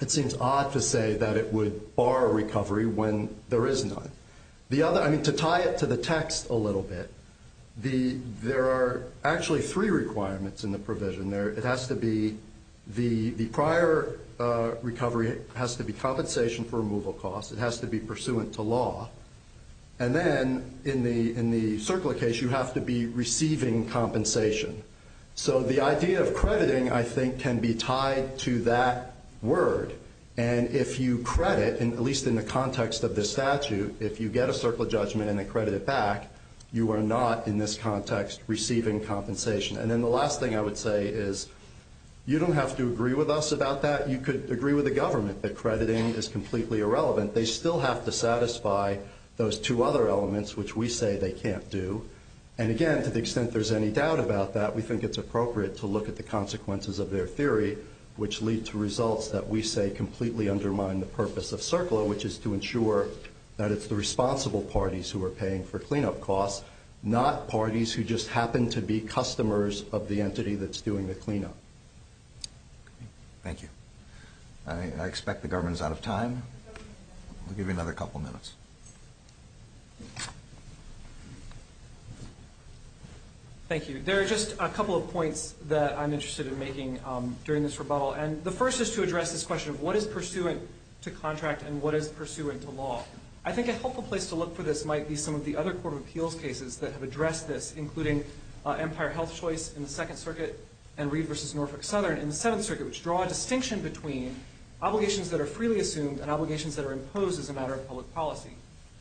it seems odd to say that it would bar recovery when there is none. The other, I mean, to tie it to the text a little bit, there are actually three requirements in the provision. It has to be, the prior recovery has to be compensation for removal costs. It has to be pursuant to law. And then in the CERCLA case, you have to be receiving compensation. So the idea of crediting, I think, can be tied to that word. And if you credit, at least in the context of this statute, if you get a CERCLA judgment and then credit it back, you are not, in this context, receiving compensation. And then the last thing I would say is, you don't have to agree with us about that. You could agree with the government that crediting is completely irrelevant. They still have to satisfy those two other elements, which we say they can't do. And again, to the extent there's any doubt about that, we think it's appropriate to look at the consequences of their theory, which lead to results that we say completely undermine the purpose of CERCLA, which is to ensure that it's the responsible parties who are paying for cleanup costs, not parties who just happen to be customers of the entity that's doing the cleanup. Thank you. I expect the government is out of time. I'll give you another couple minutes. Thank you. There are just a couple of points that I'm interested in making during this rebuttal. And the first is to address this question of what is pursuant to contract and what is pursuant to law. I think a helpful place to look for this might be some of the other court of appeals cases that have addressed this, including Empire Health Choice in the Second Circuit and Reed v. Norfolk Southern in the Seventh Circuit, which draw a distinction between obligations that are freely assumed and obligations that are imposed as a matter of public policy.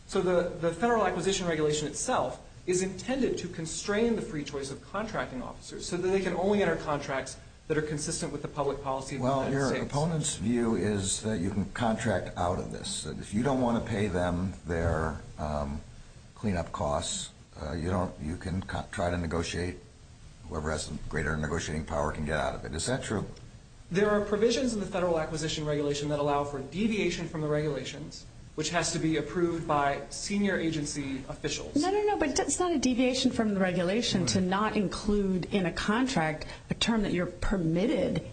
So the Federal Acquisition Regulation itself is intended to constrain the free choice of contracting officers so that they can only enter contracts that are consistent with the public policy of the United States. Well, your opponent's view is that you can contract out of this. If you don't want to pay them their cleanup costs, you can try to negotiate. Whoever has greater negotiating power can get out of it. Is that true? There are provisions in the Federal Acquisition Regulation that allow for deviation from the regulations, which has to be approved by senior agency officials. No, no, no, but it's not a deviation from the regulation to not include in a contract a term that you're permitted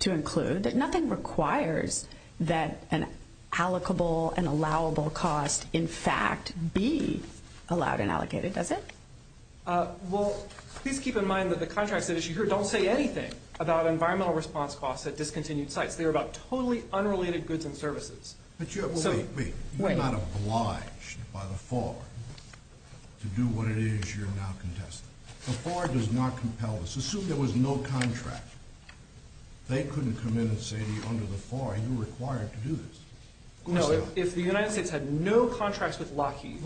to include. Nothing requires that an allocable and allowable cost, in fact, be allowed and allocated, does it? Well, please keep in mind that the contracts that issue here don't say anything about environmental response costs at discontinued sites. They're about totally unrelated goods and services. But you're not obliged by the FAR to do what it is you're now contesting. The FAR does not compel this. Assume there was no contract. They couldn't come in and say to you under the FAR, you're required to do this. No, if the United States had no contracts with Lockheed,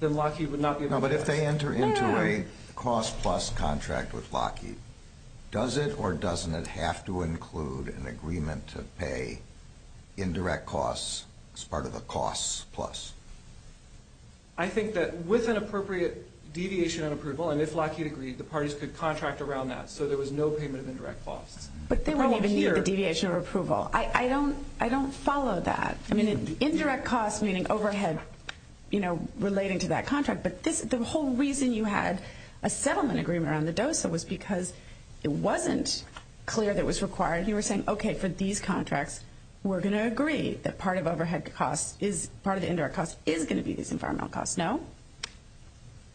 then Lockheed would not be able to do this. No, but if they enter into a cost-plus contract with Lockheed, does it or doesn't it have to include an agreement to pay indirect costs as part of a cost-plus? I think that with an appropriate deviation of approval, and if Lockheed agreed, the parties could contract around that, so there was no payment of indirect costs. But they wouldn't even need the deviation of approval. I don't follow that. I mean, indirect costs meaning overhead, you know, relating to that contract. But the whole reason you had a settlement agreement around the DOSA was because it wasn't clear that it was required. You were saying, okay, for these contracts, we're going to agree that part of overhead costs, part of the indirect costs is going to be these environmental costs, no?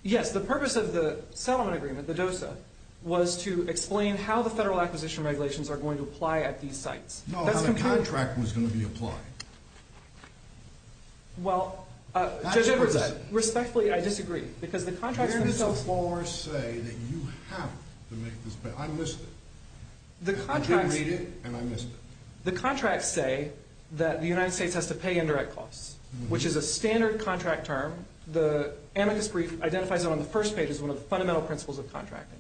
Yes, the purpose of the settlement agreement, the DOSA, was to explain how the federal acquisition regulations are going to apply at these sites. No, how the contract was going to be applied. Well, Judge Edwards, respectfully, I disagree. Because the contracts themselves – You didn't before say that you have to make this payment. I missed it. I didn't read it, and I missed it. The contracts say that the United States has to pay indirect costs, which is a standard contract term. The amicus brief identifies it on the first page as one of the fundamental principles of contracting.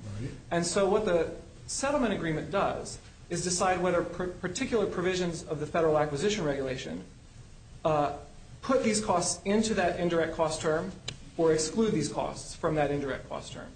And so what the settlement agreement does is decide whether particular provisions of the federal acquisition regulation put these costs into that indirect cost term or exclude these costs from that indirect cost term.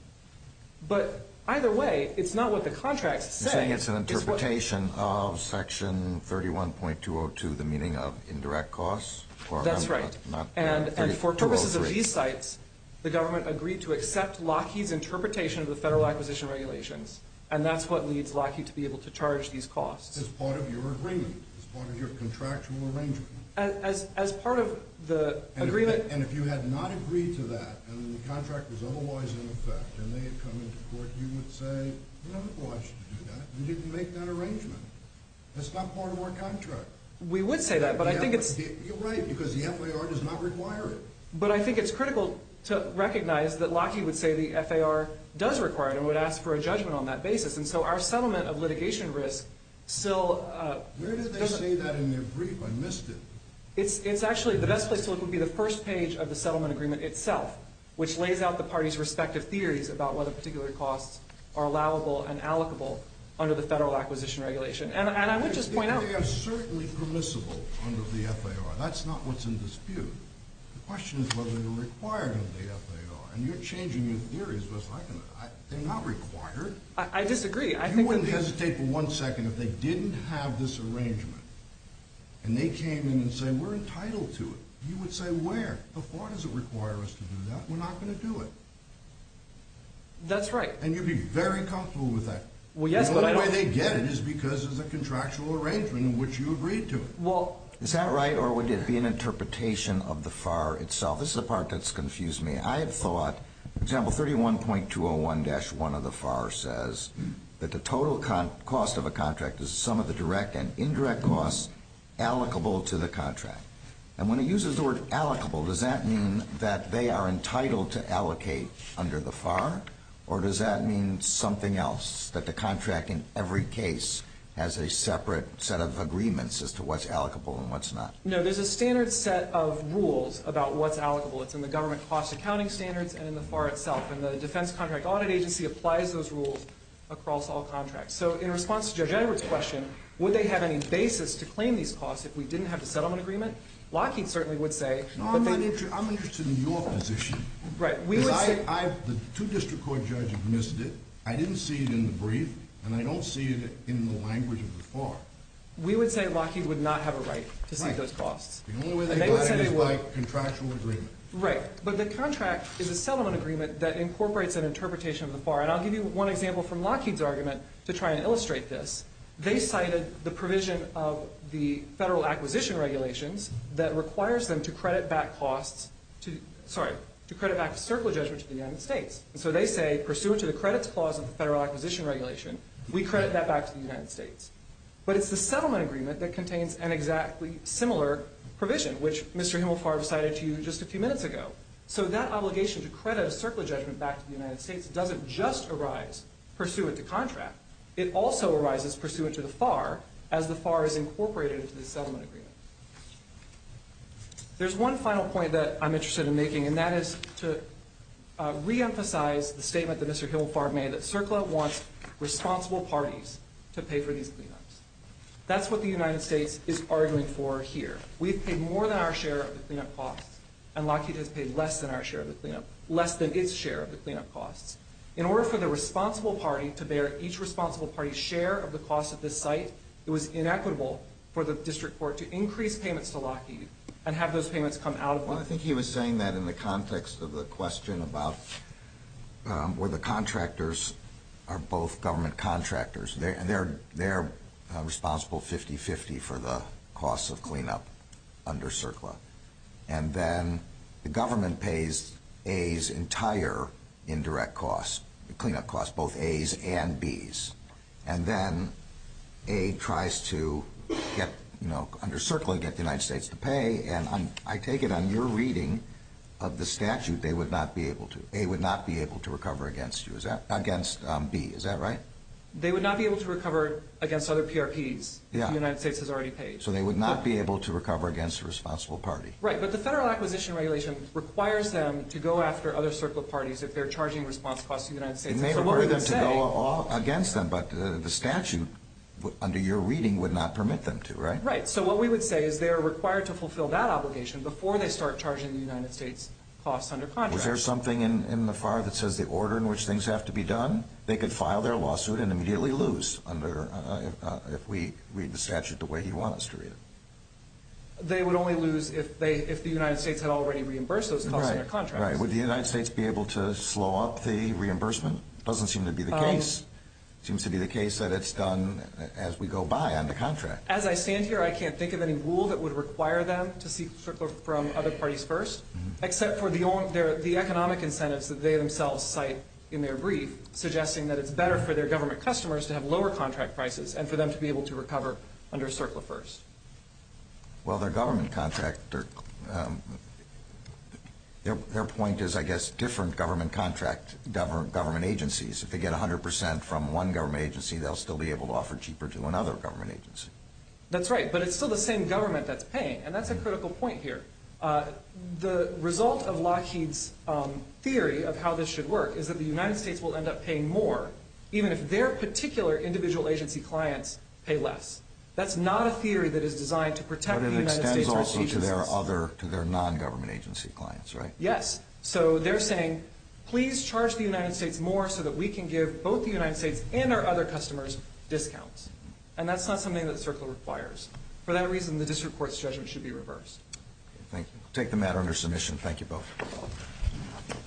But either way, it's not what the contracts say. You're saying it's an interpretation of Section 31.202, the meaning of indirect costs? That's right. And for purposes of these sites, the government agreed to accept Lockheed's interpretation of the federal acquisition regulations, and that's what leads Lockheed to be able to charge these costs. As part of your agreement, as part of your contractual arrangement. As part of the agreement – And if you had not agreed to that, and the contract was otherwise in effect, and they had come into court, you would say, we don't want you to do that, and you can make that arrangement. That's not part of our contract. We would say that, but I think it's – You're right, because the FAR does not require it. But I think it's critical to recognize that Lockheed would say the FAR does require it and would ask for a judgment on that basis. And so our settlement of litigation risk still – Where did they say that in their brief? I missed it. It's actually – the best place to look would be the first page of the settlement agreement itself, which lays out the parties' respective theories about whether particular costs are allowable and allocable under the federal acquisition regulation. And I would just point out – That's not what's in dispute. The question is whether they're required under the FAR. And you're changing your theories. They're not required. I disagree. You wouldn't hesitate for one second if they didn't have this arrangement, and they came in and said, we're entitled to it. You would say, where? The FAR doesn't require us to do that. We're not going to do it. That's right. And you'd be very comfortable with that. Well, yes, but I don't – The only way they get it is because it's a contractual arrangement in which you agreed to it. Well, is that right, or would it be an interpretation of the FAR itself? This is the part that's confused me. I have thought, for example, 31.201-1 of the FAR says that the total cost of a contract is the sum of the direct and indirect costs allocable to the contract. And when it uses the word allocable, does that mean that they are entitled to allocate under the FAR, or does that mean something else, that the contract in every case has a separate set of agreements as to what's allocable and what's not? No, there's a standard set of rules about what's allocable. It's in the government cost accounting standards and in the FAR itself. And the Defense Contract Audit Agency applies those rules across all contracts. So in response to Judge Edwards' question, would they have any basis to claim these costs if we didn't have the settlement agreement, Lockheed certainly would say that they – No, I'm interested in your position. Right. The two district court judges missed it. I didn't see it in the brief, and I don't see it in the language of the FAR. We would say Lockheed would not have a right to see those costs. Right. The only way they got it is by contractual agreement. Right. But the contract is a settlement agreement that incorporates an interpretation of the FAR. And I'll give you one example from Lockheed's argument to try and illustrate this. They cited the provision of the Federal Acquisition Regulations that requires them to credit back costs to – sorry, to credit back a circular judgment to the United States. And so they say, pursuant to the credits clause of the Federal Acquisition Regulation, we credit that back to the United States. But it's the settlement agreement that contains an exactly similar provision, which Mr. Himelfar cited to you just a few minutes ago. So that obligation to credit a circular judgment back to the United States doesn't just arise pursuant to contract. It also arises pursuant to the FAR as the FAR is incorporated into the settlement agreement. There's one final point that I'm interested in making, and that is to reemphasize the statement that Mr. Himelfar made, that CERCLA wants responsible parties to pay for these cleanups. That's what the United States is arguing for here. We've paid more than our share of the cleanup costs, and Lockheed has paid less than our share of the cleanup – less than its share of the cleanup costs. In order for the responsible party to bear each responsible party's share of the cost of this site, it was inequitable for the district court to increase payments to Lockheed and have those payments come out of Lockheed. Well, I think he was saying that in the context of the question about where the contractors are both government contractors, and they're responsible 50-50 for the costs of cleanup under CERCLA. And then the government pays A's entire indirect costs, cleanup costs, both A's and B's. And then A tries to get, you know, under CERCLA get the United States to pay, and I take it on your reading of the statute they would not be able to. A would not be able to recover against B. Is that right? They would not be able to recover against other PRPs if the United States has already paid. So they would not be able to recover against a responsible party. Right, but the Federal Acquisition Regulation requires them to go after other CERCLA parties if they're charging response costs to the United States. It may require them to go against them, but the statute under your reading would not permit them to, right? Right. So what we would say is they're required to fulfill that obligation before they start charging the United States costs under contract. Is there something in the FAR that says the order in which things have to be done? They could file their lawsuit and immediately lose if we read the statute the way he wants to read it. They would only lose if the United States had already reimbursed those costs under contract. Right. Would the United States be able to slow up the reimbursement? Doesn't seem to be the case. It seems to be the case that it's done as we go by on the contract. As I stand here I can't think of any rule that would require them to seek CERCLA from other parties first except for the economic incentives that they themselves cite in their brief suggesting that it's better for their government customers to have lower contract prices and for them to be able to recover under CERCLA first. Well, their point is, I guess, different government agencies. If they get 100% from one government agency, they'll still be able to offer cheaper to another government agency. That's right, but it's still the same government that's paying, and that's a critical point here. The result of Lockheed's theory of how this should work is that the United States will end up paying more even if their particular individual agency clients pay less. That's not a theory that is designed to protect the United States. But it extends also to their non-government agency clients, right? Yes. So they're saying, please charge the United States more so that we can give both the United States and our other customers discounts. And that's not something that CERCLA requires. For that reason, the district court's judgment should be reversed. Thank you. I'll take the matter under submission. Thank you both.